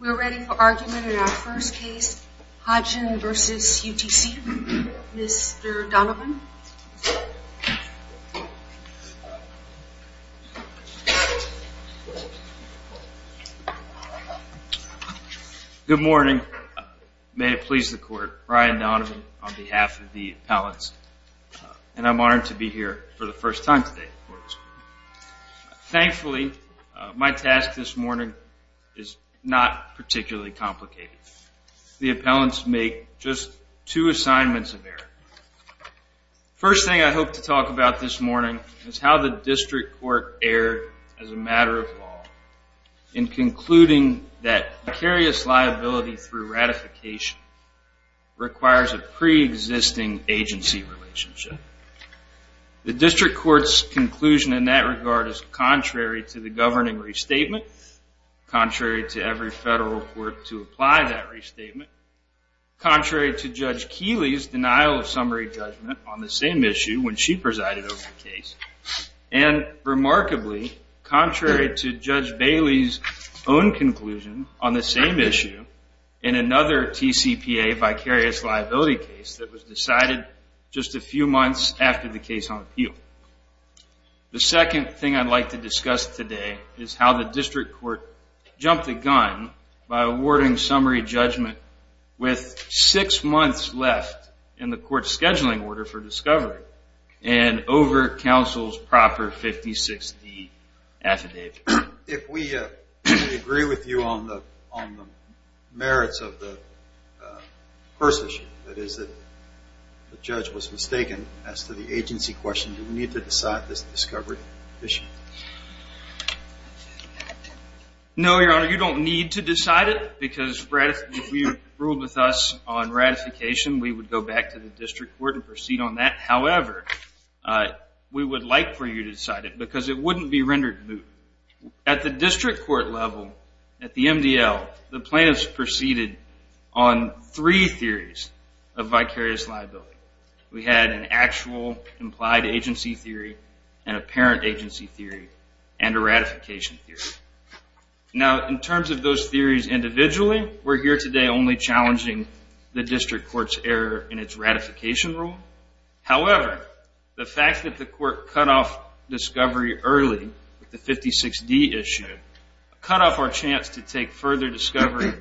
We're ready for argument in our first case, Hodgin v. UTC. Mr. Donovan. Good morning. May it please the court, Brian Donovan on behalf of the appellants. And I'm honored to be here for the first time today. Thankfully, my task this morning is not particularly complicated. The appellants make just two assignments of error. First thing I hope to talk about this morning is how the district court erred as a matter of law in concluding that precarious liability through ratification requires a preexisting agency relationship. The district court's conclusion in that regard is contrary to the governing restatement, contrary to every federal court to apply that restatement, contrary to Judge Keeley's denial of summary judgment on the same issue when she presided over the case, and remarkably, contrary to Judge Bailey's own conclusion on the same issue in another TCPA vicarious liability case that was decided just a few months after the case on appeal. The second thing I'd like to discuss today is how the district court jumped the gun by awarding summary judgment with six months left in the court's scheduling order for discovery and over counsel's proper 50-60 affidavit. If we agree with you on the merits of the first issue, that is that the judge was mistaken as to the agency question, do we need to decide this discovery issue? No, Your Honor. You don't need to decide it because if you ruled with us on ratification, we would go back to the district court and proceed on that. However, we would like for you to decide it because it wouldn't be rendered moot. At the district court level, at the MDL, the plaintiffs proceeded on three theories of vicarious liability. We had an actual implied agency theory, an apparent agency theory, and a ratification theory. Now, in terms of those theories individually, we're here today only challenging the district court's error in its ratification rule. However, the fact that the court cut off discovery early with the 56D issue, cut off our chance to take further discovery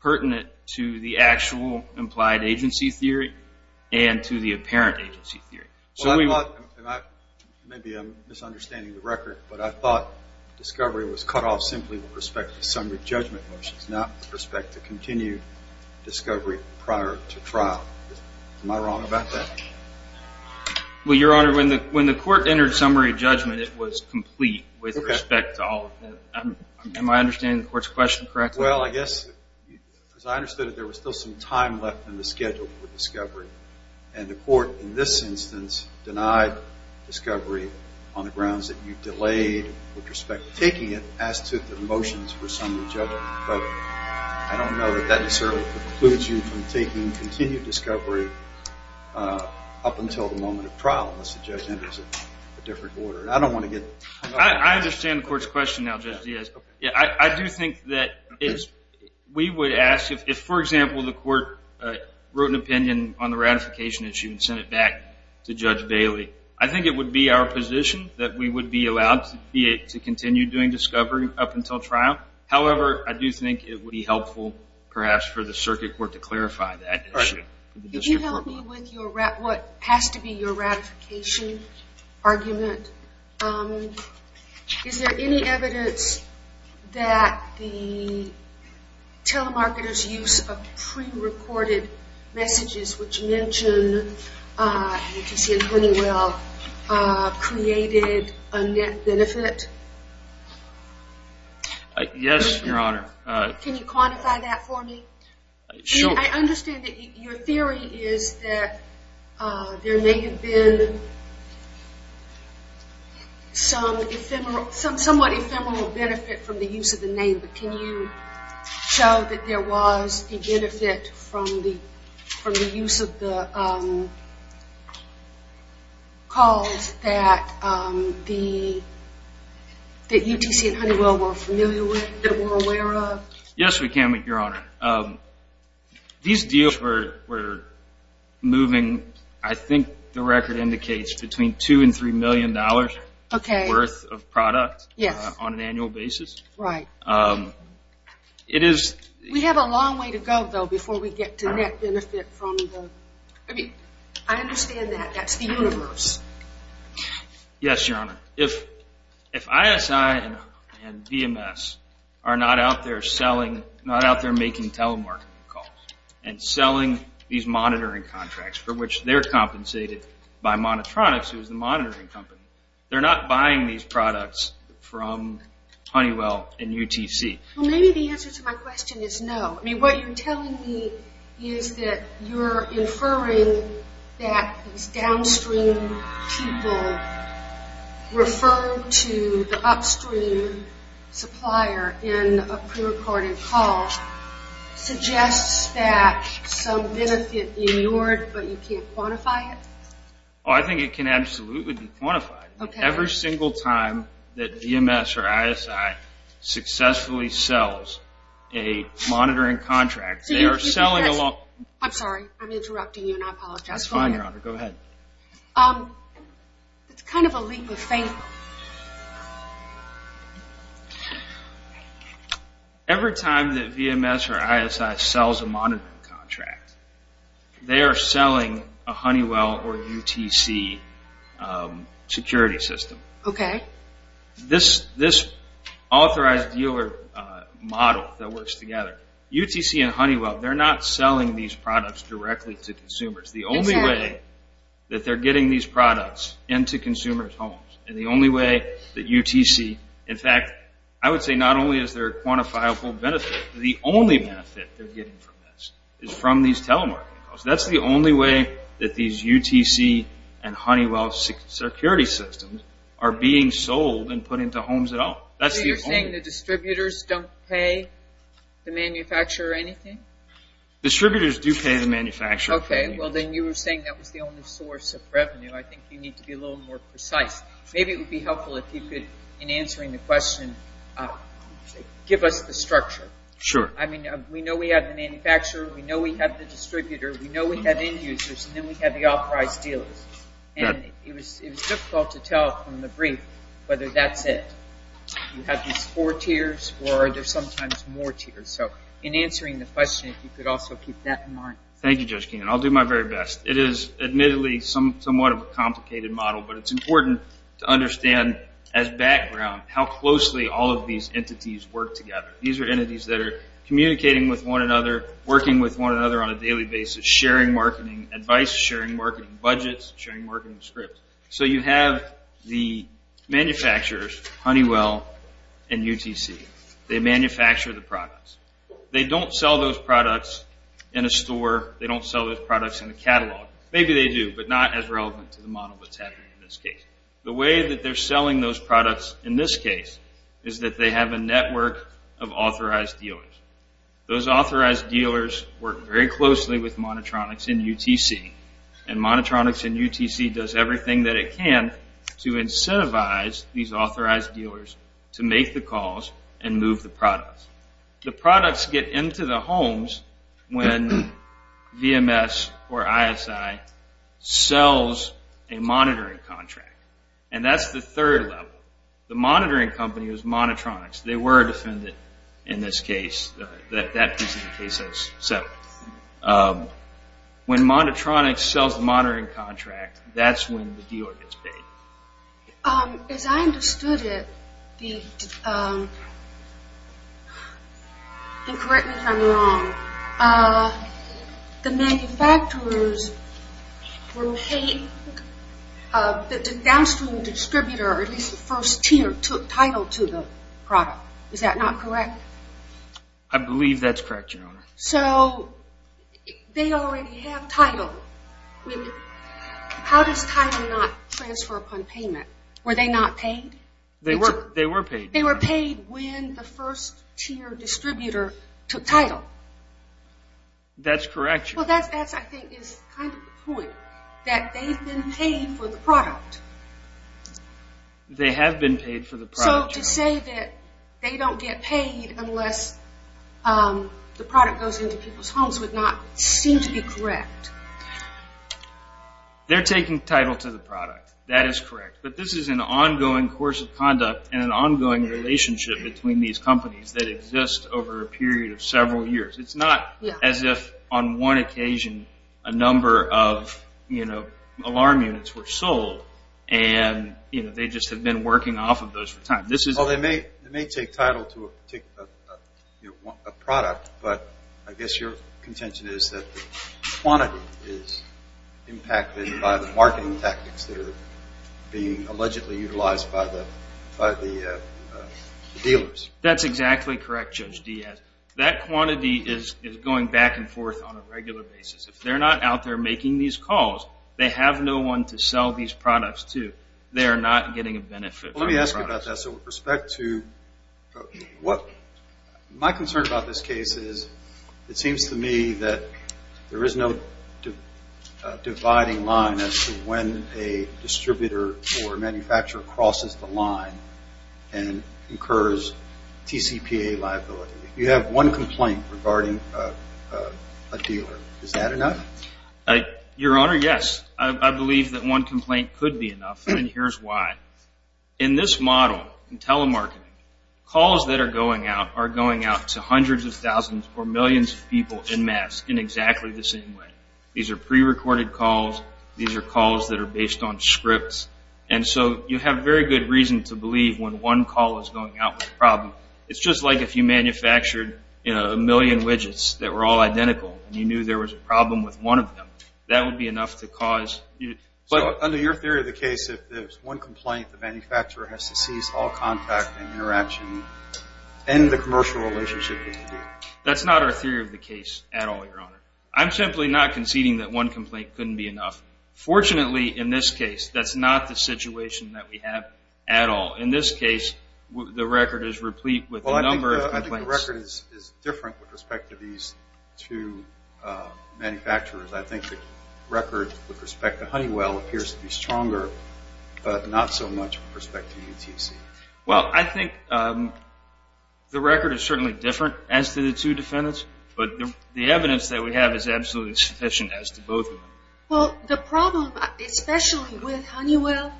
pertinent to the actual implied agency theory and to the apparent agency theory. Well, I thought, and maybe I'm misunderstanding the record, but I thought discovery was cut off simply with respect to summary judgment motions, not with respect to continued discovery prior to trial. Am I wrong about that? Well, Your Honor, when the court entered summary judgment, it was complete with respect to all of them. Am I understanding the court's question correctly? Well, I guess, as I understood it, there was still some time left in the schedule for discovery, and the court in this instance denied discovery on the grounds that you delayed with respect to taking it as to the motions for summary judgment. But I don't know that that certainly precludes you from taking continued discovery up until the moment of trial unless the judge enters a different order. And I don't want to get- I understand the court's question now, Judge Diaz. I do think that we would ask if, for example, the court wrote an opinion on the ratification issue and sent it back to Judge Bailey, I think it would be our position that we would be allowed to continue doing discovery up until trial. However, I do think it would be helpful perhaps for the circuit court to clarify that issue. Could you help me with what has to be your ratification argument? Is there any evidence that the telemarketer's use of prerecorded messages, which mention HCC and Honeywell, created a net benefit? Yes, Your Honor. Can you quantify that for me? Sure. I understand that your theory is that there may have been some somewhat ephemeral benefit from the use of the name, but can you show that there was a benefit from the use of the calls that UTC and Honeywell were aware of? Yes, we can, Your Honor. These deals were moving, I think the record indicates, between $2 and $3 million worth of product on an annual basis. Right. We have a long way to go, though, before we get to net benefit. I understand that. That's the universe. Yes, Your Honor. If ISI and VMS are not out there making telemarketing calls and selling these monitoring contracts, for which they're compensated by Monotronics, who's the monitoring company, they're not buying these products from Honeywell and UTC. Maybe the answer to my question is no. What you're telling me is that you're inferring that these downstream people referred to the upstream supplier in a prerecorded call suggests that some benefit inured, but you can't quantify it? I think it can absolutely be quantified. Okay. Every single time that VMS or ISI successfully sells a monitoring contract, they are selling... I'm sorry, I'm interrupting you and I apologize. That's fine, Your Honor. Go ahead. It's kind of a legal thing. Every time that VMS or ISI sells a monitoring contract, they are selling a Honeywell or UTC security system. Okay. This authorized dealer model that works together, UTC and Honeywell, they're not selling these products directly to consumers. The only way that they're getting these products into consumers' homes and the only way that UTC... In fact, I would say not only is there a quantifiable benefit, the only benefit they're getting from this is from these telemarketing calls. That's the only way that these UTC and Honeywell security systems are being sold and put into homes at all. So you're saying the distributors don't pay the manufacturer anything? Distributors do pay the manufacturer. Okay. Well, then you were saying that was the only source of revenue. I think you need to be a little more precise. Maybe it would be helpful if you could, in answering the question, give us the structure. Sure. I mean, we know we have the manufacturer, we know we have the distributor, we know we have end users, and then we have the authorized dealers. And it was difficult to tell from the brief whether that's it. You have these four tiers or are there sometimes more tiers? So in answering the question, if you could also keep that in mind. Thank you, Judge Keenan. I'll do my very best. It is admittedly somewhat of a complicated model, but it's important to understand as background how closely all of these entities work together. These are entities that are communicating with one another, working with one another on a daily basis, sharing marketing advice, sharing marketing budgets, sharing marketing scripts. So you have the manufacturers, Honeywell and UTC. They manufacture the products. They don't sell those products in a store. They don't sell those products in a catalog. Maybe they do, but not as relevant to the model that's happening in this case. The way that they're selling those products in this case is that they have a network of authorized dealers. Those authorized dealers work very closely with Monotronics and UTC, and Monotronics and UTC does everything that it can to incentivize these authorized dealers to make the calls and move the products. The products get into the homes when VMS or ISI sells a monitoring contract, and that's the third level. The monitoring company is Monotronics. They were a defendant in this case. That piece of the case I just said. When Monotronics sells the monitoring contract, that's when the dealer gets paid. As I understood it, and correct me if I'm wrong, the manufacturers were paid, the downstream distributor, or at least the first tier, took title to the product. Is that not correct? I believe that's correct, Your Honor. So they already have title. How does title not transfer upon payment? Were they not paid? They were paid. They were paid when the first tier distributor took title. That's correct, Your Honor. That, I think, is kind of the point, that they've been paid for the product. They have been paid for the product, Your Honor. So to say that they don't get paid unless the product goes into people's homes would not seem to be correct. They're taking title to the product. That is correct. But this is an ongoing course of conduct and an ongoing relationship between these companies that exist over a period of several years. It's not as if on one occasion a number of alarm units were sold and they just have been working off of those for time. They may take title to a product, but I guess your contention is that the quantity is impacted by the marketing tactics that are being allegedly utilized by the dealers. That's exactly correct, Judge Diaz. That quantity is going back and forth on a regular basis. If they're not out there making these calls, they have no one to sell these products to. They are not getting a benefit from the product. Let me ask you about that. So with respect to what my concern about this case is, it seems to me that there is no dividing line as to when a distributor or manufacturer crosses the line and incurs TCPA liability. You have one complaint regarding a dealer. Is that enough? Your Honor, yes. I believe that one complaint could be enough, and here's why. In this model, in telemarketing, calls that are going out are going out to hundreds of thousands or millions of people en masse in exactly the same way. These are prerecorded calls. These are calls that are based on scripts. And so you have very good reason to believe when one call is going out with a problem. It's just like if you manufactured a million widgets that were all identical and you knew there was a problem with one of them, that would be enough to cause. Under your theory of the case, if there's one complaint, the manufacturer has to cease all contact and interaction and end the commercial relationship with the dealer. That's not our theory of the case at all, Your Honor. I'm simply not conceding that one complaint couldn't be enough. Fortunately, in this case, that's not the situation that we have at all. In this case, the record is replete with a number of complaints. The record is different with respect to these two manufacturers. I think the record with respect to Honeywell appears to be stronger, but not so much with respect to UTC. Well, I think the record is certainly different as to the two defendants, but the evidence that we have is absolutely sufficient as to both of them. Well, the problem, especially with Honeywell,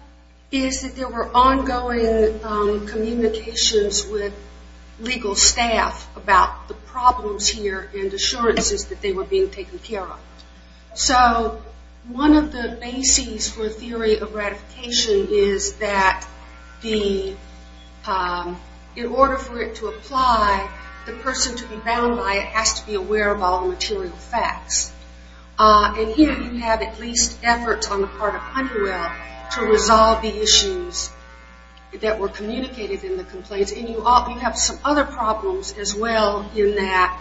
is that there were ongoing communications with legal staff about the problems here and assurances that they were being taken care of. So one of the bases for a theory of ratification is that in order for it to apply, the person to be bound by it has to be aware of all the material facts. And here you have at least efforts on the part of Honeywell to resolve the issues that were communicated in the complaints. And you have some other problems as well in that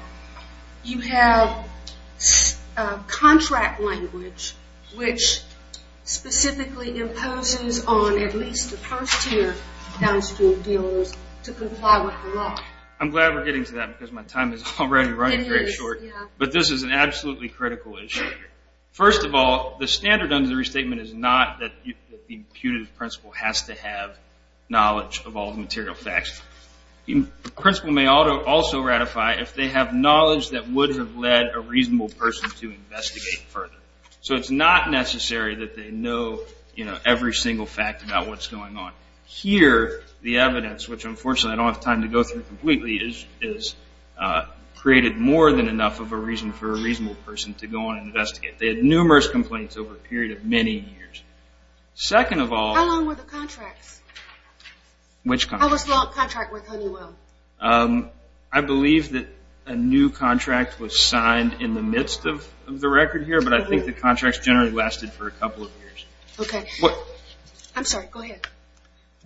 you have contract language which specifically imposes on at least the first-tier downstream dealers to comply with the law. I'm glad we're getting to that because my time is already running very short. But this is an absolutely critical issue. First of all, the standard under the restatement is not that the imputative principle has to have knowledge of all the material facts. The principle may also ratify if they have knowledge that would have led a reasonable person to investigate further. So it's not necessary that they know every single fact about what's going on. Here, the evidence, which unfortunately I don't have time to go through completely, is created more than enough of a reason for a reasonable person to go on and investigate. They had numerous complaints over a period of many years. Second of all... How long were the contracts? Which contracts? How was the contract with Honeywell? I believe that a new contract was signed in the midst of the record here, but I think the contracts generally lasted for a couple of years. Okay. I'm sorry. Go ahead.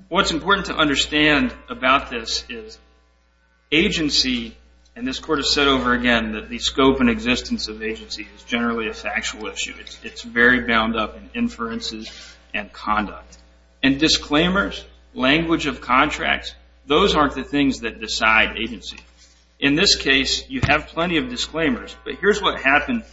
What's important to understand about this is agency, and this court has said over again that the scope and existence of agency is generally a factual issue. It's very bound up in inferences and conduct. And disclaimers, language of contracts, those aren't the things that decide agency. In this case, you have plenty of disclaimers, but here's what happened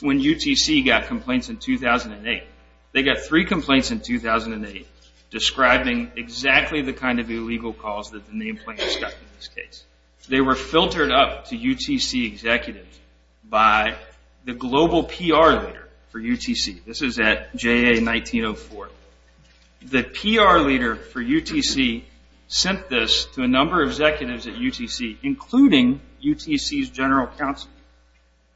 when UTC got complaints in 2008. They got three complaints in 2008, describing exactly the kind of illegal calls that the nameplate stuck in this case. They were filtered up to UTC executives by the global PR leader for UTC. This is at JA 1904. The PR leader for UTC sent this to a number of executives at UTC, including UTC's general counsel,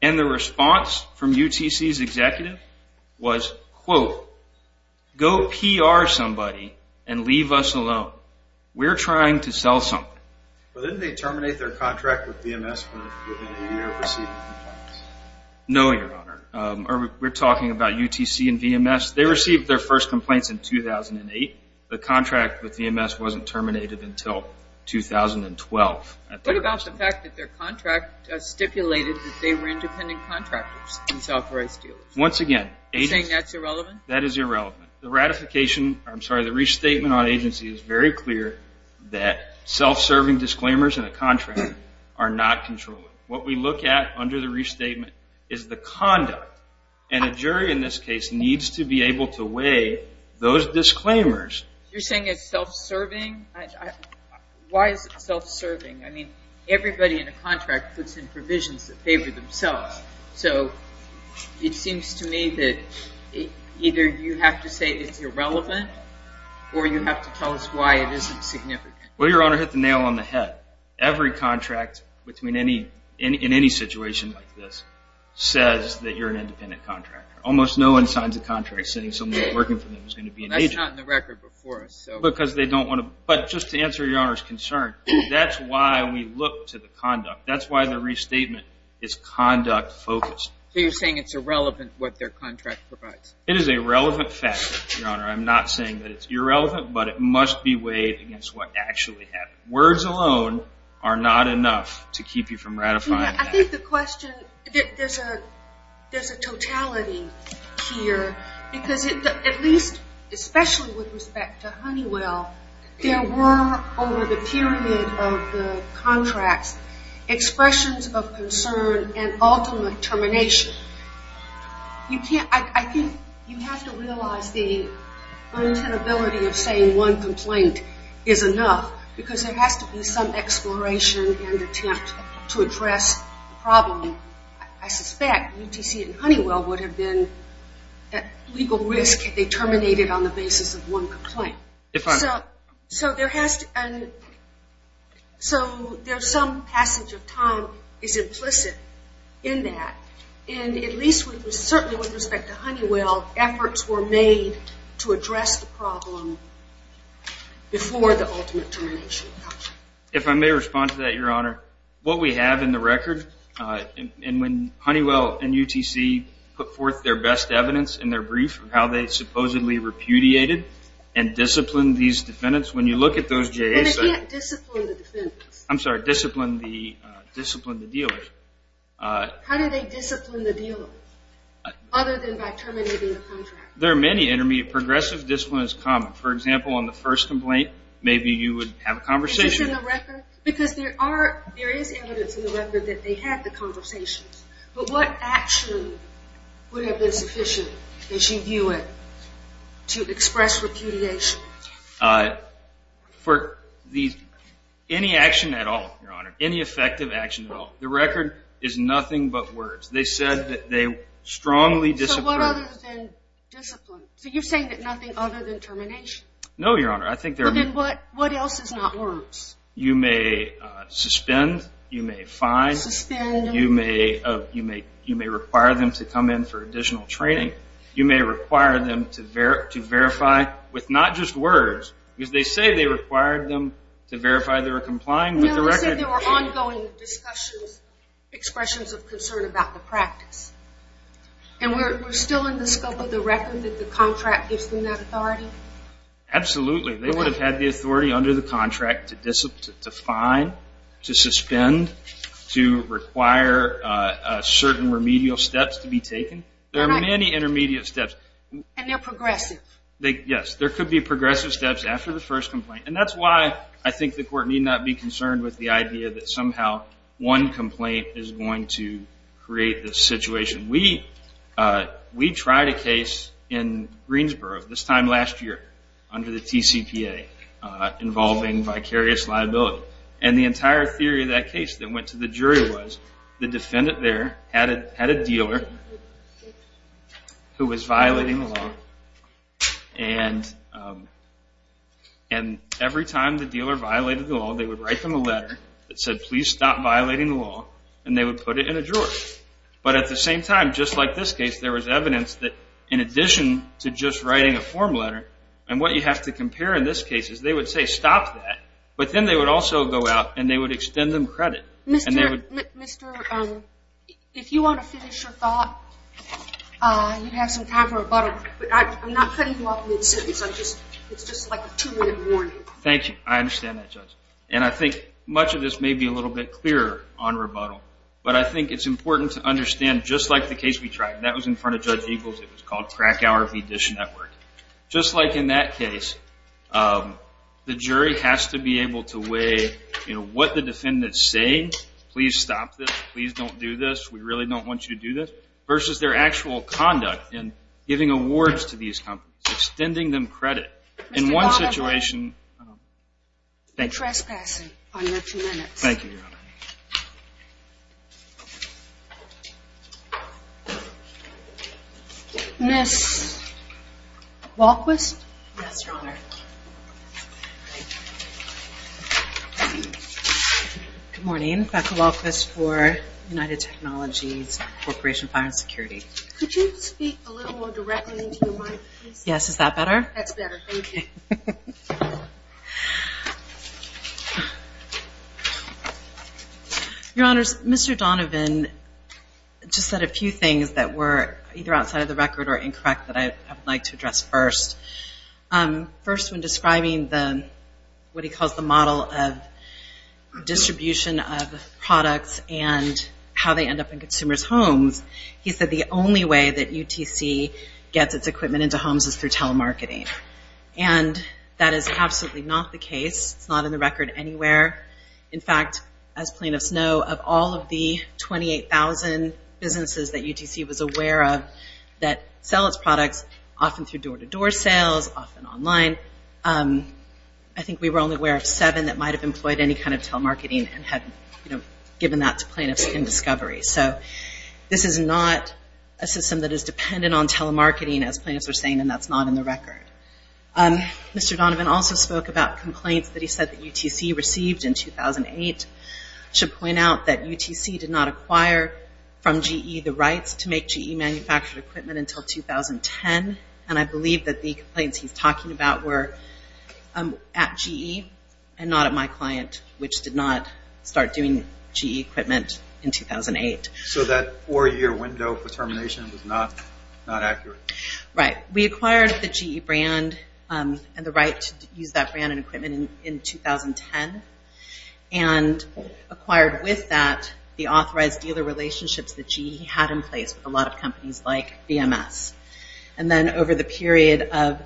and the response from UTC's executive was, quote, go PR somebody and leave us alone. We're trying to sell something. But didn't they terminate their contract with VMS within a year of receiving complaints? No, Your Honor. We're talking about UTC and VMS. They received their first complaints in 2008. The contract with VMS wasn't terminated until 2012. What about the fact that their contract stipulated that they were independent contractors and self-authorized dealers? Once again, agency... You're saying that's irrelevant? That is irrelevant. The ratification, I'm sorry, the restatement on agency is very clear that self-serving disclaimers in a contract are not controllable. What we look at under the restatement is the conduct, and a jury in this case needs to be able to weigh those disclaimers. You're saying it's self-serving? Why is it self-serving? I mean, everybody in a contract puts in provisions that favor themselves. So it seems to me that either you have to say it's irrelevant or you have to tell us why it isn't significant. Well, Your Honor, hit the nail on the head. Every contract in any situation like this says that you're an independent contractor. Almost no one signs a contract saying somebody working for them is going to be an agent. That's not in the record before us. But just to answer Your Honor's concern, that's why we look to the conduct. That's why the restatement is conduct-focused. So you're saying it's irrelevant what their contract provides? It is a relevant factor, Your Honor. I'm not saying that it's irrelevant, but it must be weighed against what actually happened. Words alone are not enough to keep you from ratifying that. I think the question, there's a totality here because at least, especially with respect to Honeywell, there were over the period of the contracts expressions of concern and ultimate termination. I think you have to realize the untenability of saying one complaint is enough because there has to be some exploration and attempt to address the problem. I suspect UTC and Honeywell would have been at legal risk if they terminated on the basis of one complaint. So there's some passage of time that's implicit in that. And at least certainly with respect to Honeywell, efforts were made to address the problem before the ultimate termination. If I may respond to that, Your Honor, what we have in the record, and when Honeywell and UTC put forth their best evidence in their brief of how they supposedly repudiated and disciplined these defendants, when you look at those JSAs... But they didn't discipline the defendants. I'm sorry, discipline the dealers. How did they discipline the dealers other than by terminating the contract? There are many intermediate, progressive disciplines common. For example, on the first complaint, maybe you would have a conversation. Is this in the record? Because there is evidence in the record that they had the conversations. But what action would have been sufficient, as you view it, to express repudiation? For any action at all, Your Honor, any effective action at all, the record is nothing but words. They said that they strongly disciplined... So what other than discipline? So you're saying that nothing other than termination? No, Your Honor. Then what else is not words? You may suspend. You may fine. Suspend. You may require them to come in for additional training. You may require them to verify with not just words, because they say they required them to verify they were complying with the record. No, they said there were ongoing discussions, expressions of concern about the practice. And we're still in the scope of the record that the contract gives them that authority? Absolutely. They would have had the authority under the contract to fine, to suspend, to require certain remedial steps to be taken. There are many intermediate steps. And they're progressive. Yes. There could be progressive steps after the first complaint. And that's why I think the Court need not be concerned with the idea that somehow one complaint is going to create this situation. We tried a case in Greensboro, this time last year, under the TCPA involving vicarious liability. And the entire theory of that case that went to the jury was the defendant there had a dealer who was violating the law. And every time the dealer violated the law, they would write them a letter that said, please stop violating the law. And they would put it in a drawer. But at the same time, just like this case, there was evidence that in addition to just writing a form letter, and what you have to compare in this case is they would say, stop that. But then they would also go out and they would extend them credit. Mr. If you want to finish your thought, you have some time for rebuttal. I'm not cutting you off mid-sentence. It's just like a two-minute warning. Thank you. I understand that, Judge. And I think much of this may be a little bit clearer on rebuttal. But I think it's important to understand, just like the case we tried. That was in front of Judge Eagles. It was called Krakauer v. Dish Network. Just like in that case, the jury has to be able to weigh what the defendants say, please stop this, please don't do this, we really don't want you to do this, versus their actual conduct in giving awards to these companies, extending them credit. But in one situation. Thank you. You're trespassing on your two minutes. Thank you, Your Honor. Ms. Walquist? Yes, Your Honor. Good morning. Becca Walquist for United Technologies Corporation Fire and Security. Could you speak a little more directly into the mic, please? Yes, is that better? That's better, thank you. Your Honors, Mr. Donovan just said a few things that were either outside of the record or incorrect that I would like to address first. First, when describing what he calls the model of distribution of products and how they end up in consumers' homes, he said the only way that UTC gets its equipment into homes is through telemarketing. And that is absolutely not the case. It's not in the record anywhere. In fact, as plaintiffs know, of all of the 28,000 businesses that UTC was aware of that sell its products, often through door-to-door sales, often online, I think we were only aware of seven that might have employed any kind of telemarketing and had given that to plaintiffs in discovery. So this is not a system that is dependent on telemarketing, as plaintiffs are saying, and that's not in the record. Mr. Donovan also spoke about complaints that he said that UTC received in 2008. I should point out that UTC did not acquire from GE the rights to make GE-manufactured equipment until 2010, and I believe that the complaints he's talking about were at GE and not at my client, which did not start doing GE equipment in 2008. So that four-year window for termination was not accurate? Right. We acquired the GE brand and the right to use that brand and equipment in 2010 and acquired with that the authorized dealer relationships that GE had in place with a lot of companies like BMS. And then over the period of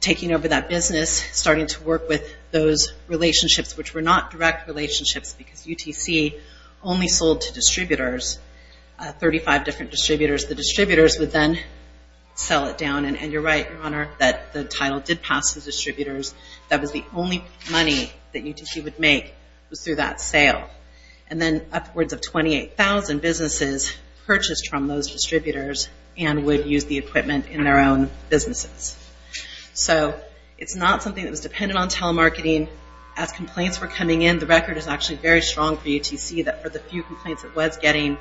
taking over that business, starting to work with those relationships, which were not direct relationships because UTC only sold to distributors, 35 different distributors. The distributors would then sell it down. And you're right, Your Honor, that the title did pass to distributors. That was the only money that UTC would make was through that sale. And then upwards of 28,000 businesses purchased from those distributors and would use the equipment in their own businesses. So it's not something that was dependent on telemarketing. As complaints were coming in, the record is actually very strong for UTC that for the few complaints it was getting,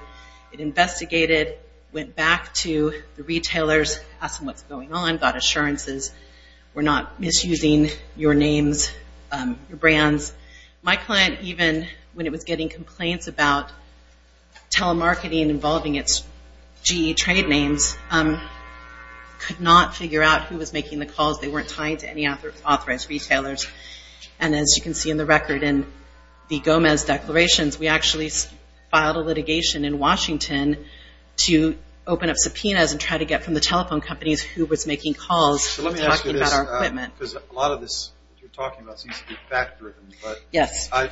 it investigated, went back to the retailers, asked them what's going on, got assurances. We're not misusing your names, your brands. My client, even when it was getting complaints about telemarketing involving its GE trade names, could not figure out who was making the calls. They weren't tying to any authorized retailers. And as you can see in the record in the Gomez declarations, we actually filed a litigation in Washington to open up subpoenas and try to get from the telephone companies who was making calls to talk about our equipment. Let me ask you this because a lot of this that you're talking about seems to be fact-driven. Yes. I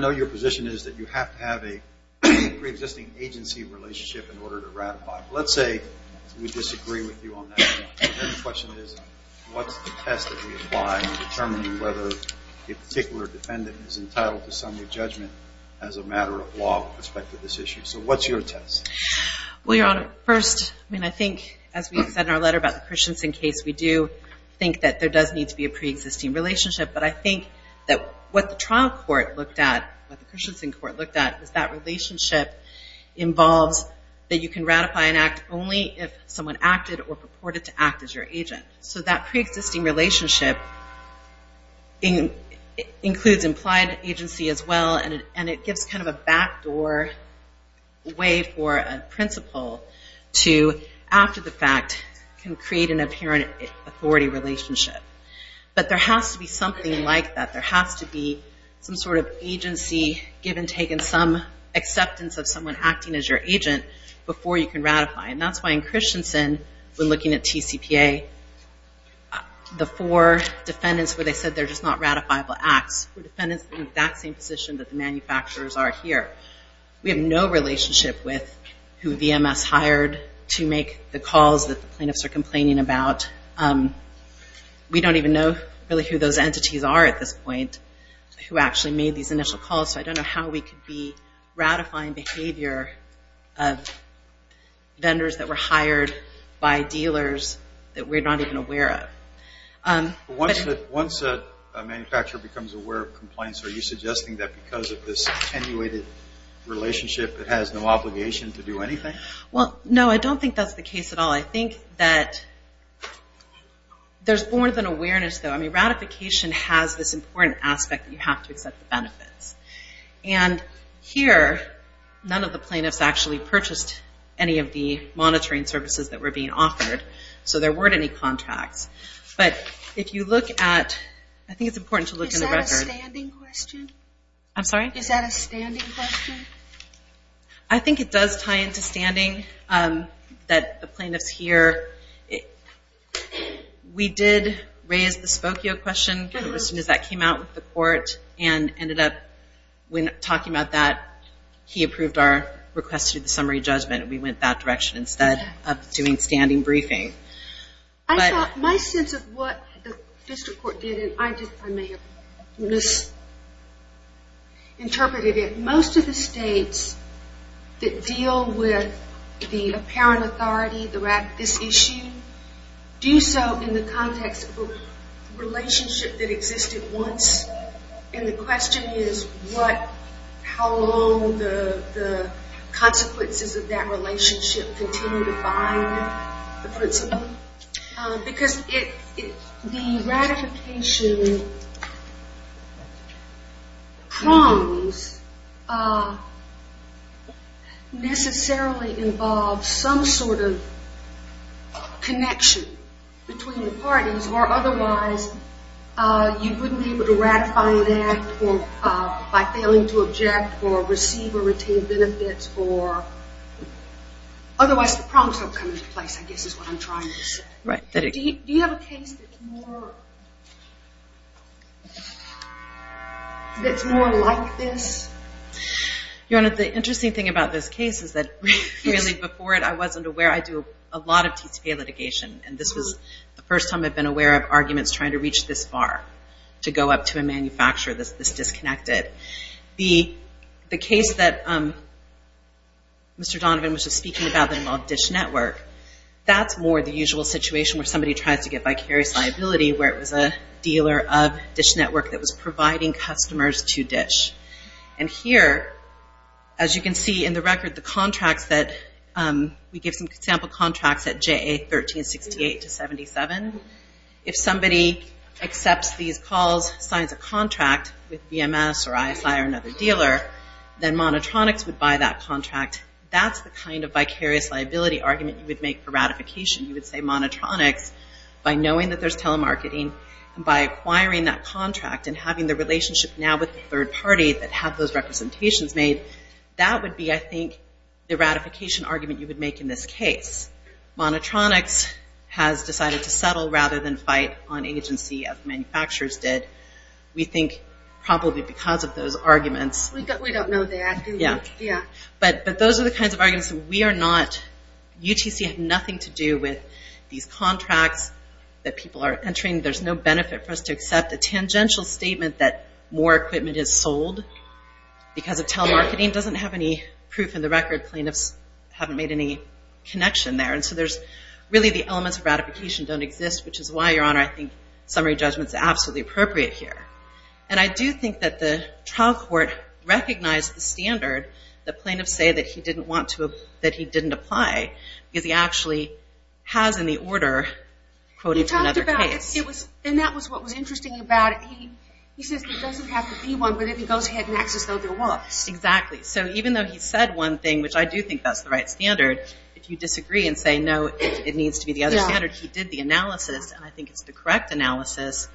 know your position is that you have to have a preexisting agency relationship in order to ratify. Let's say we disagree with you on that. The question is what's the test that we apply in determining whether a particular defendant is entitled to summary judgment as a matter of law with respect to this issue. So what's your test? Well, Your Honor, first, I mean, I think as we said in our letter about the Christensen case, we do think that there does need to be a preexisting relationship. But I think that what the trial court looked at, what the Christensen court looked at, is that relationship involves that you can ratify an act only if someone acted or purported to act as your agent. So that preexisting relationship includes implied agency as well, and it gives kind of a backdoor way for a principal to, after the fact, can create an apparent authority relationship. But there has to be something like that. There has to be some sort of agency, give and take, and some acceptance of someone acting as your agent before you can ratify. And that's why in Christensen, when looking at TCPA, the four defendants where they said they're just not ratifiable acts were defendants in that same position that the manufacturers are here. We have no relationship with who VMS hired to make the calls that the plaintiffs are complaining about. We don't even know really who those entities are at this point who actually made these initial calls. So I don't know how we could be ratifying behavior of vendors that were hired by dealers that we're not even aware of. Once a manufacturer becomes aware of complaints, are you suggesting that because of this attenuated relationship it has no obligation to do anything? Well, no, I don't think that's the case at all. I think that there's more than awareness, though. I mean, ratification has this important aspect that you have to accept the benefits. And here, none of the plaintiffs actually purchased any of the monitoring services that were being offered, so there weren't any contracts. But if you look at, I think it's important to look in the record. Is that a standing question? I'm sorry? Is that a standing question? I think it does tie into standing that the plaintiffs hear. We did raise the Spokio question. As soon as that came out with the court and ended up talking about that, he approved our request to do the summary judgment, and we went that direction instead of doing standing briefing. I thought my sense of what the district court did, and I may have misinterpreted it, is that most of the states that deal with the apparent authority, this issue, do so in the context of a relationship that existed once. And the question is how long the consequences of that relationship continue to bind the principle. Because the ratification prongs necessarily involve some sort of connection between the parties, or otherwise you wouldn't be able to ratify an act by failing to object or receive or retain benefits. Otherwise the prongs don't come into place, I guess is what I'm trying to say. Do you have a case that's more like this? The interesting thing about this case is that really before it I wasn't aware. I do a lot of TCPA litigation, and this was the first time I've been aware of arguments trying to reach this far, to go up to a manufacturer that's disconnected. The case that Mr. Donovan was just speaking about that involved DISH Network, that's more the usual situation where somebody tries to get vicarious liability, where it was a dealer of DISH Network that was providing customers to DISH. And here, as you can see in the record, the contracts that we give some sample contracts at JA 1368 to 77. If somebody accepts these calls, signs a contract with BMS or ISI or another dealer, then Monotronics would buy that contract. That's the kind of vicarious liability argument you would make for ratification. You would say Monotronics, by knowing that there's telemarketing, and by acquiring that contract and having the relationship now with the third party that have those representations made, that would be, I think, the ratification argument you would make in this case. Monotronics has decided to settle rather than fight on agency, as manufacturers did. We think, probably because of those arguments... We don't know that, do we? Yeah. But those are the kinds of arguments that we are not... UTC had nothing to do with these contracts that people are entering. There's no benefit for us to accept a tangential statement that more equipment is sold because of telemarketing. It doesn't have any proof in the record. The plaintiffs haven't made any connection there. Really, the elements of ratification don't exist, which is why, Your Honor, I think summary judgment is absolutely appropriate here. I do think that the trial court recognized the standard that plaintiffs say that he didn't want to... that he didn't apply because he actually has, in the order, quoting from another case. He talked about... and that was what was interesting about it. He says there doesn't have to be one, but if he goes ahead and acts as though there was. Exactly. So even though he said one thing, which I do think that's the right standard, if you disagree and say, no, it needs to be the other standard, he did the analysis, and I think it's the correct analysis,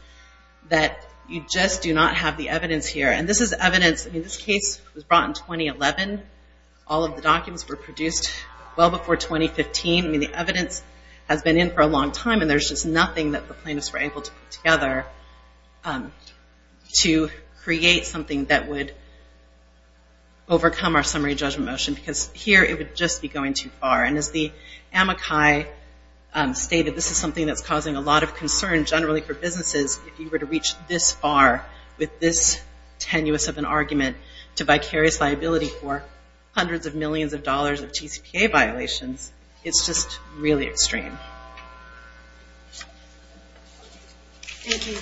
that you just do not have the evidence here. And this is evidence... I mean, this case was brought in 2011. All of the documents were produced well before 2015. I mean, the evidence has been in for a long time, and there's just nothing that the plaintiffs were able to put together to create something that would overcome our summary judgment motion, because here it would just be going too far. And as the amici stated, this is something that's causing a lot of concern, generally for businesses, if you were to reach this far with this tenuous of an argument to vicarious liability for hundreds of millions of dollars of TCPA violations. It's just really extreme. Thank you.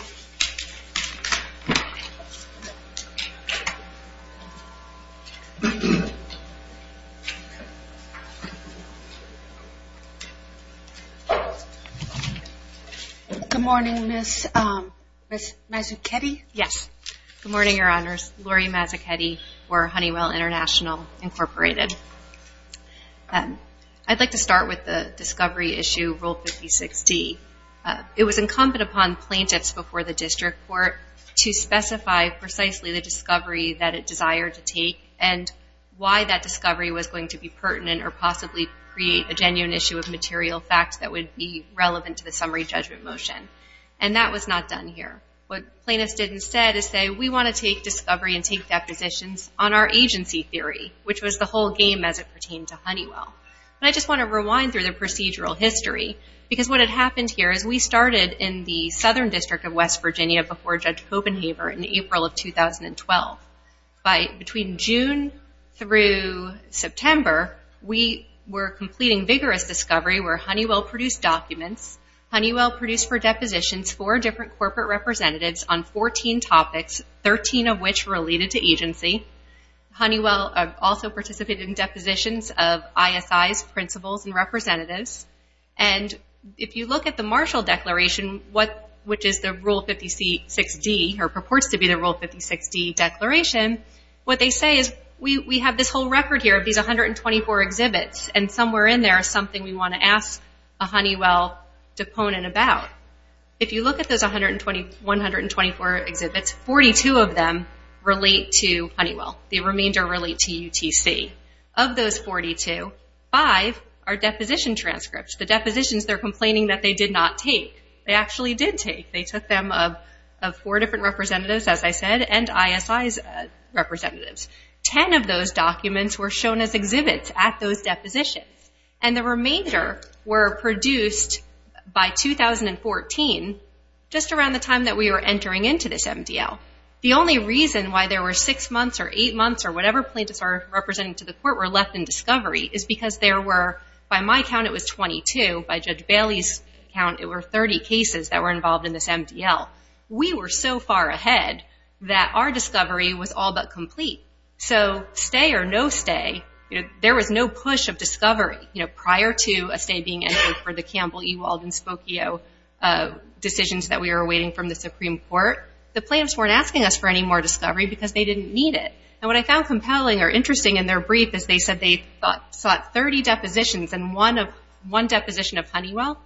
Good morning, Ms. Mazzuchetti. Yes. Good morning, Your Honors. Laurie Mazzuchetti for Honeywell International, Incorporated. I'd like to start with the discovery issue, Rule 56D. It was incumbent upon plaintiffs before the district court to specify precisely the discovery that it desired to take and why that discovery was going to be pertinent or possibly create a genuine issue of material fact that would be relevant to the summary judgment motion. And that was not done here. What plaintiffs did instead is say, we want to take discovery and take depositions on our agency theory, which was the whole game as it pertained to Honeywell. I just want to rewind through the procedural history, because what had happened here is we started in the Southern District of West Virginia before Judge Copenhaver in April of 2012. Between June through September, we were completing vigorous discovery where Honeywell produced documents. Honeywell produced for depositions four different corporate representatives on 14 topics, 13 of which related to agency. Honeywell also participated in depositions of ISIs, principals, and representatives. And if you look at the Marshall Declaration, which is the Rule 56D, or purports to be the Rule 56D declaration, what they say is we have this whole record here of these 124 exhibits, and somewhere in there is something we want to ask a Honeywell deponent about. If you look at those 124 exhibits, 42 of them relate to Honeywell. The remainder relate to UTC. Of those 42, five are deposition transcripts, the depositions they're complaining that they did not take. They actually did take. They took them of four different representatives, as I said, and ISI representatives. Ten of those documents were shown as exhibits at those depositions. And the remainder were produced by 2014, just around the time that we were entering into this MDL. The only reason why there were six months or eight months or whatever plaintiffs are representing to the court were left in discovery is because there were, by my count, it was 22. By Judge Bailey's count, it were 30 cases that were involved in this MDL. We were so far ahead that our discovery was all but complete. So stay or no stay, there was no push of discovery. Prior to a stay being entered for the Campbell, Ewald, and Spokio decisions that we were awaiting from the Supreme Court, the plaintiffs weren't asking us for any more discovery because they didn't need it. And what I found compelling or interesting in their brief is they said they sought 30 depositions and one deposition of Honeywell.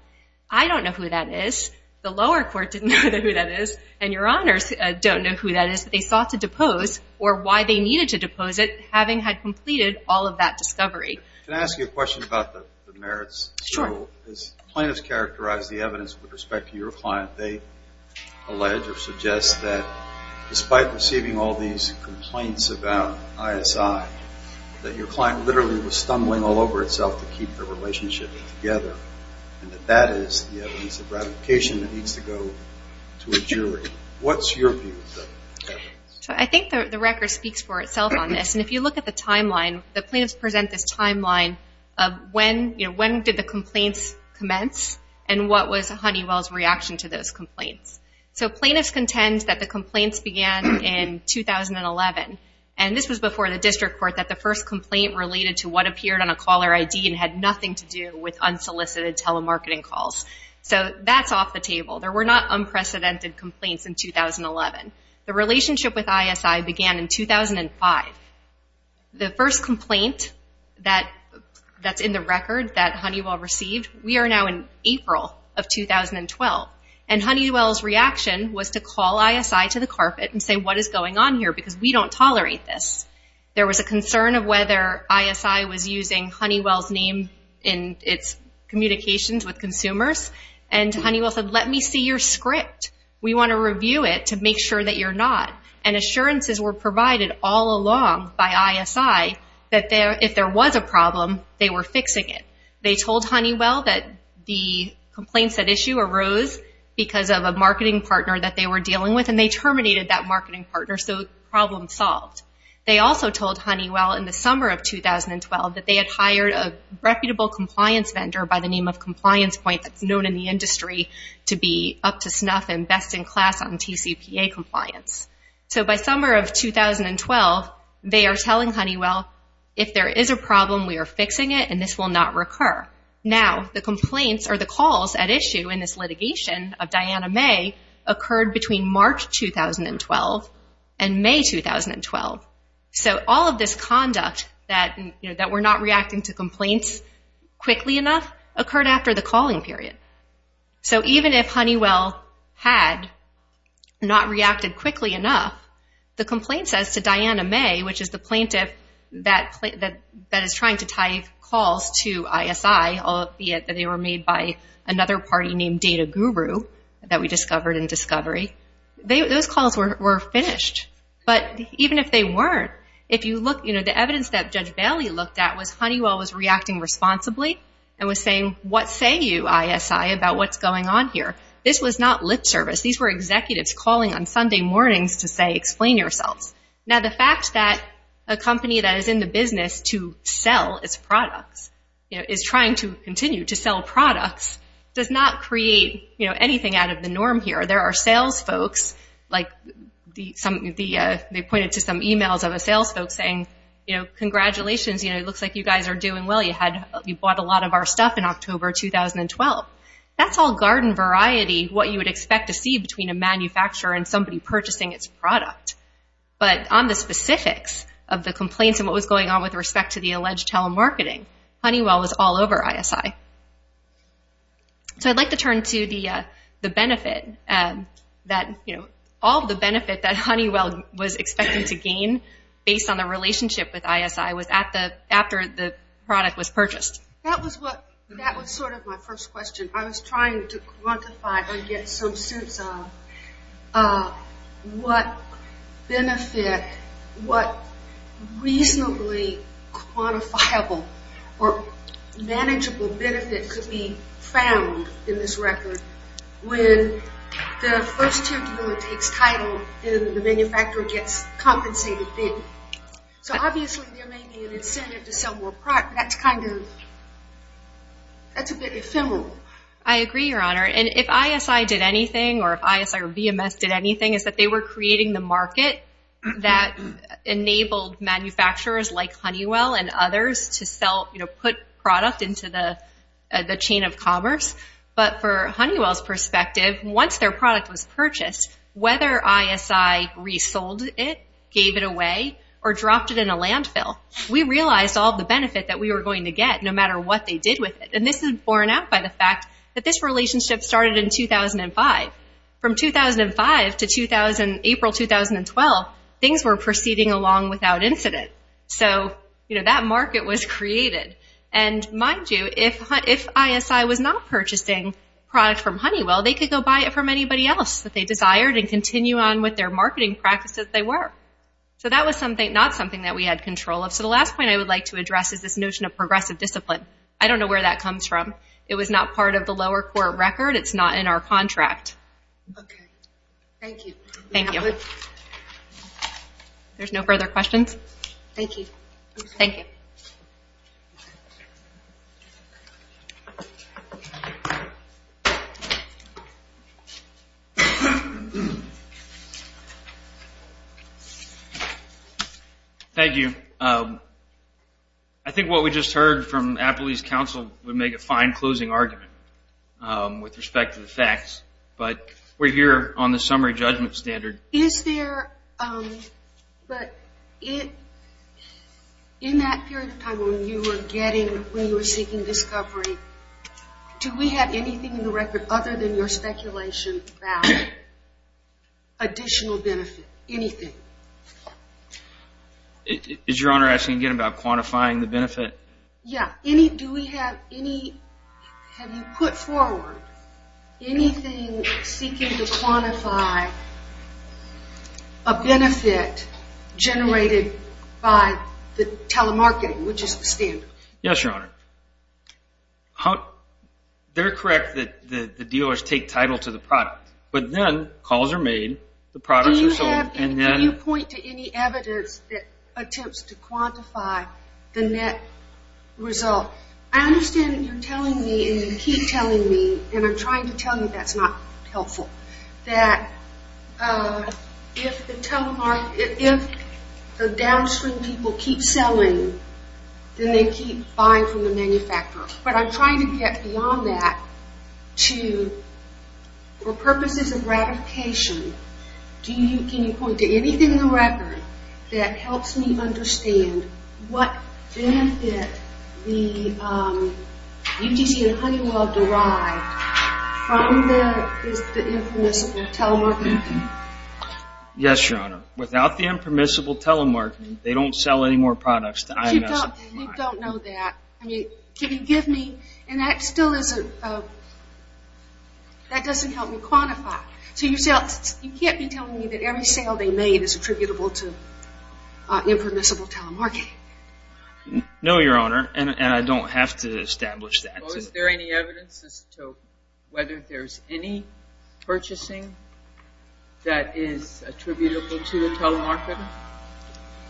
I don't know who that is. The lower court didn't know who that is, and your honors don't know who that is. They said they sought to depose or why they needed to depose it having had completed all of that discovery. Can I ask you a question about the merits? Sure. As plaintiffs characterize the evidence with respect to your client, they allege or suggest that despite receiving all these complaints about ISI, that your client literally was stumbling all over itself to keep their relationship together, and that that is the evidence of ratification that needs to go to a jury. What's your view of that? I think the record speaks for itself on this, and if you look at the timeline, the plaintiffs present this timeline of when did the complaints commence and what was Honeywell's reaction to those complaints. So plaintiffs contend that the complaints began in 2011, and this was before the district court, that the first complaint related to what appeared on a caller ID and had nothing to do with unsolicited telemarketing calls. So that's off the table. There were not unprecedented complaints in 2011. The relationship with ISI began in 2005. The first complaint that's in the record that Honeywell received, we are now in April of 2012, and Honeywell's reaction was to call ISI to the carpet and say what is going on here because we don't tolerate this. There was a concern of whether ISI was using Honeywell's name in its communications with consumers, and Honeywell said let me see your script. We want to review it to make sure that you're not, and assurances were provided all along by ISI that if there was a problem, they were fixing it. They told Honeywell that the complaints at issue arose because of a marketing partner that they were dealing with, and they terminated that marketing partner, so problem solved. They also told Honeywell in the summer of 2012 that they had hired a reputable compliance vendor by the name of Compliance Point that's known in the industry to be up to snuff and best in class on TCPA compliance. So by summer of 2012, they are telling Honeywell if there is a problem, we are fixing it, and this will not recur. Now, the complaints or the calls at issue in this litigation of Diana Mae occurred between March 2012 and May 2012. So all of this conduct that we're not reacting to complaints quickly enough occurred after the calling period. So even if Honeywell had not reacted quickly enough, the complaint says to Diana Mae, which is the plaintiff that is trying to tie calls to ISI, albeit that they were made by another party named Data Guru that we discovered in Discovery, those calls were finished. But even if they weren't, the evidence that Judge Bailey looked at was Honeywell was reacting responsibly and was saying, what say you, ISI, about what's going on here? This was not lip service. These were executives calling on Sunday mornings to say, explain yourselves. Now, the fact that a company that is in the business to sell its products is trying to continue to sell products does not create anything out of the norm here. There are sales folks, like they pointed to some emails of a sales folk saying, congratulations, it looks like you guys are doing well. You bought a lot of our stuff in October 2012. That's all garden variety, what you would expect to see between a manufacturer and somebody purchasing its product. But on the specifics of the complaints and what was going on with respect to the alleged telemarketing, Honeywell was all over ISI. So I'd like to turn to the benefit, all the benefit that Honeywell was expecting to gain based on the relationship with ISI after the product was purchased. That was sort of my first question. I was trying to quantify or get some sense of what benefit, what reasonably quantifiable or manageable benefit could be found in this record when the first tier consumer takes title and the manufacturer gets compensated big. So obviously there may be an incentive to sell more product, but that's kind of, that's a bit ephemeral. I agree, Your Honor. And if ISI did anything or if ISI or VMS did anything, is that they were creating the market that enabled manufacturers like Honeywell and others to put product into the chain of commerce. But for Honeywell's perspective, once their product was purchased, whether ISI resold it, gave it away, or dropped it in a landfill, we realized all the benefit that we were going to get no matter what they did with it. And this is borne out by the fact that this relationship started in 2005. From 2005 to April 2012, things were proceeding along without incident. So, you know, that market was created. And mind you, if ISI was not purchasing product from Honeywell, they could go buy it from anybody else that they desired and continue on with their marketing practices as they were. So that was not something that we had control of. So the last point I would like to address is this notion of progressive discipline. I don't know where that comes from. It was not part of the lower court record. It's not in our contract. Okay. Thank you. Thank you. There's no further questions? Thank you. Thank you. Thank you. I think what we just heard from Appalachie's counsel would make a fine closing argument with respect to the facts. But we're here on the summary judgment standard. Is there, but in that period of time when you were getting, when you were seeking discovery, do we have anything in the record other than your speculation about additional benefit? Anything? Is Your Honor asking again about quantifying the benefit? Yeah. Do we have any, have you put forward anything seeking to quantify a benefit generated by the telemarketing, which is the standard? Yes, Your Honor. They're correct that the dealers take title to the product. But then calls are made. The products are sold. Do you have, can you point to any evidence that attempts to quantify the net result? I understand that you're telling me and you keep telling me, and I'm trying to tell you that's not helpful, that if the downstream people keep selling, then they keep buying from the manufacturer. But I'm trying to get beyond that to, for purposes of ratification, can you point to anything in the record that helps me understand what benefit the UTC and Honeywell derived from the, is the impermissible telemarketing? Yes, Your Honor. Without the impermissible telemarketing, they don't sell any more products to IMS. You don't know that. I mean, can you give me, and that still isn't, that doesn't help me quantify. So you can't be telling me that every sale they made is attributable to impermissible telemarketing. No, Your Honor, and I don't have to establish that. Well, is there any evidence as to whether there's any purchasing that is attributable to telemarketing?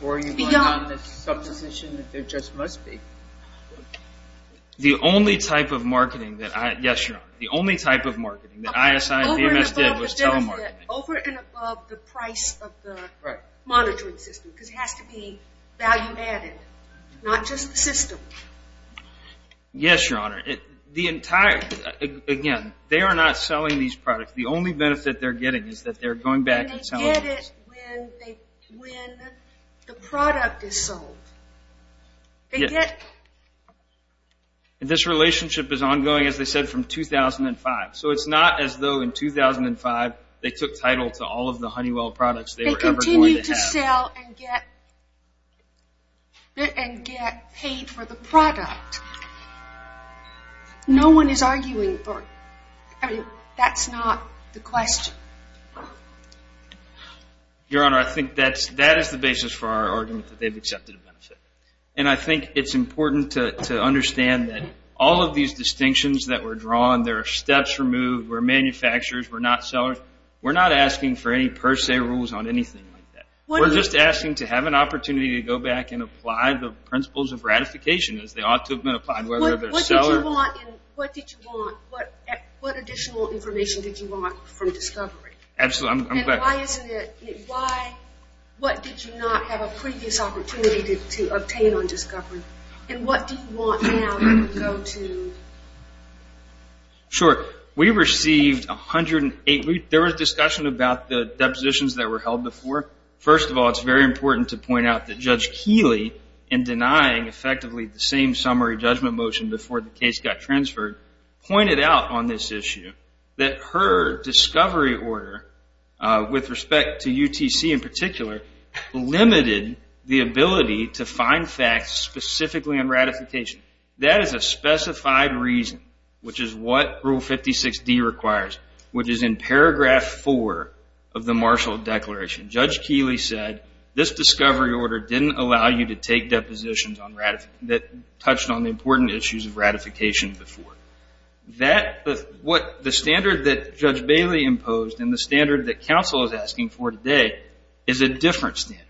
Or are you going on this supposition that there just must be? The only type of marketing that I, yes, Your Honor, the only type of marketing that ISI and VMS did was telemarketing. Okay, over and above the benefit, over and above the price of the monitoring system, because it has to be value-added, not just the system. Yes, Your Honor. The entire, again, they are not selling these products. The only benefit they're getting is that they're going back and selling them. And they get it when the product is sold. And this relationship is ongoing, as they said, from 2005. So it's not as though in 2005 they took title to all of the Honeywell products they were ever going to have. They continue to sell and get paid for the product. No one is arguing for it. I mean, that's not the question. Your Honor, I think that is the basis for our argument that they've accepted a benefit. And I think it's important to understand that all of these distinctions that were drawn, there are steps removed, we're manufacturers, we're not sellers. We're not asking for any per se rules on anything like that. We're just asking to have an opportunity to go back and apply the principles of ratification, What additional information did you want from Discovery? And why did you not have a previous opportunity to obtain on Discovery? And what do you want now to go to? Sure. We received 108. There was discussion about the depositions that were held before. First of all, it's very important to point out that Judge Keeley, in denying effectively the same summary judgment motion before the case got transferred, pointed out on this issue that her Discovery Order, with respect to UTC in particular, limited the ability to find facts specifically on ratification. That is a specified reason, which is what Rule 56D requires, which is in paragraph 4 of the Marshall Declaration. Judge Keeley said, This Discovery Order didn't allow you to take depositions that touched on the important issues of ratification before. The standard that Judge Bailey imposed and the standard that counsel is asking for today is a different standard.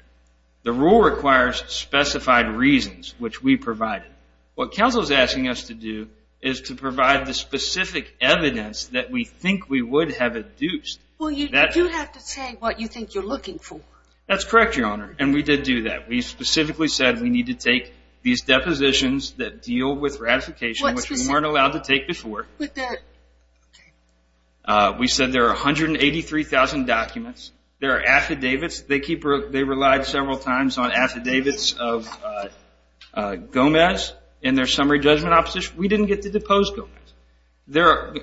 The rule requires specified reasons, which we provided. What counsel is asking us to do is to provide the specific evidence that we think we would have adduced. Well, you do have to say what you think you're looking for. That's correct, Your Honor, and we did do that. We specifically said we need to take these depositions that deal with ratification, which we weren't allowed to take before. We said there are 183,000 documents. There are affidavits. They relied several times on affidavits of Gomez in their summary judgment opposition. We didn't get to depose Gomez.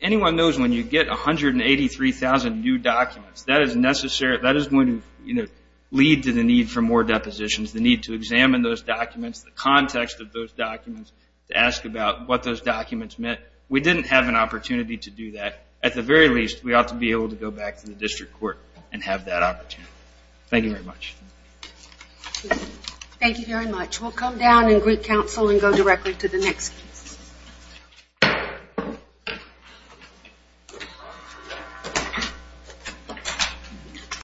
Anyone knows when you get 183,000 new documents, that is going to lead to the need for more depositions, the need to examine those documents, the context of those documents, to ask about what those documents meant. We didn't have an opportunity to do that. At the very least, we ought to be able to go back to the district court and have that opportunity. Thank you very much. Thank you very much. We'll come down and greet counsel and go directly to the next case.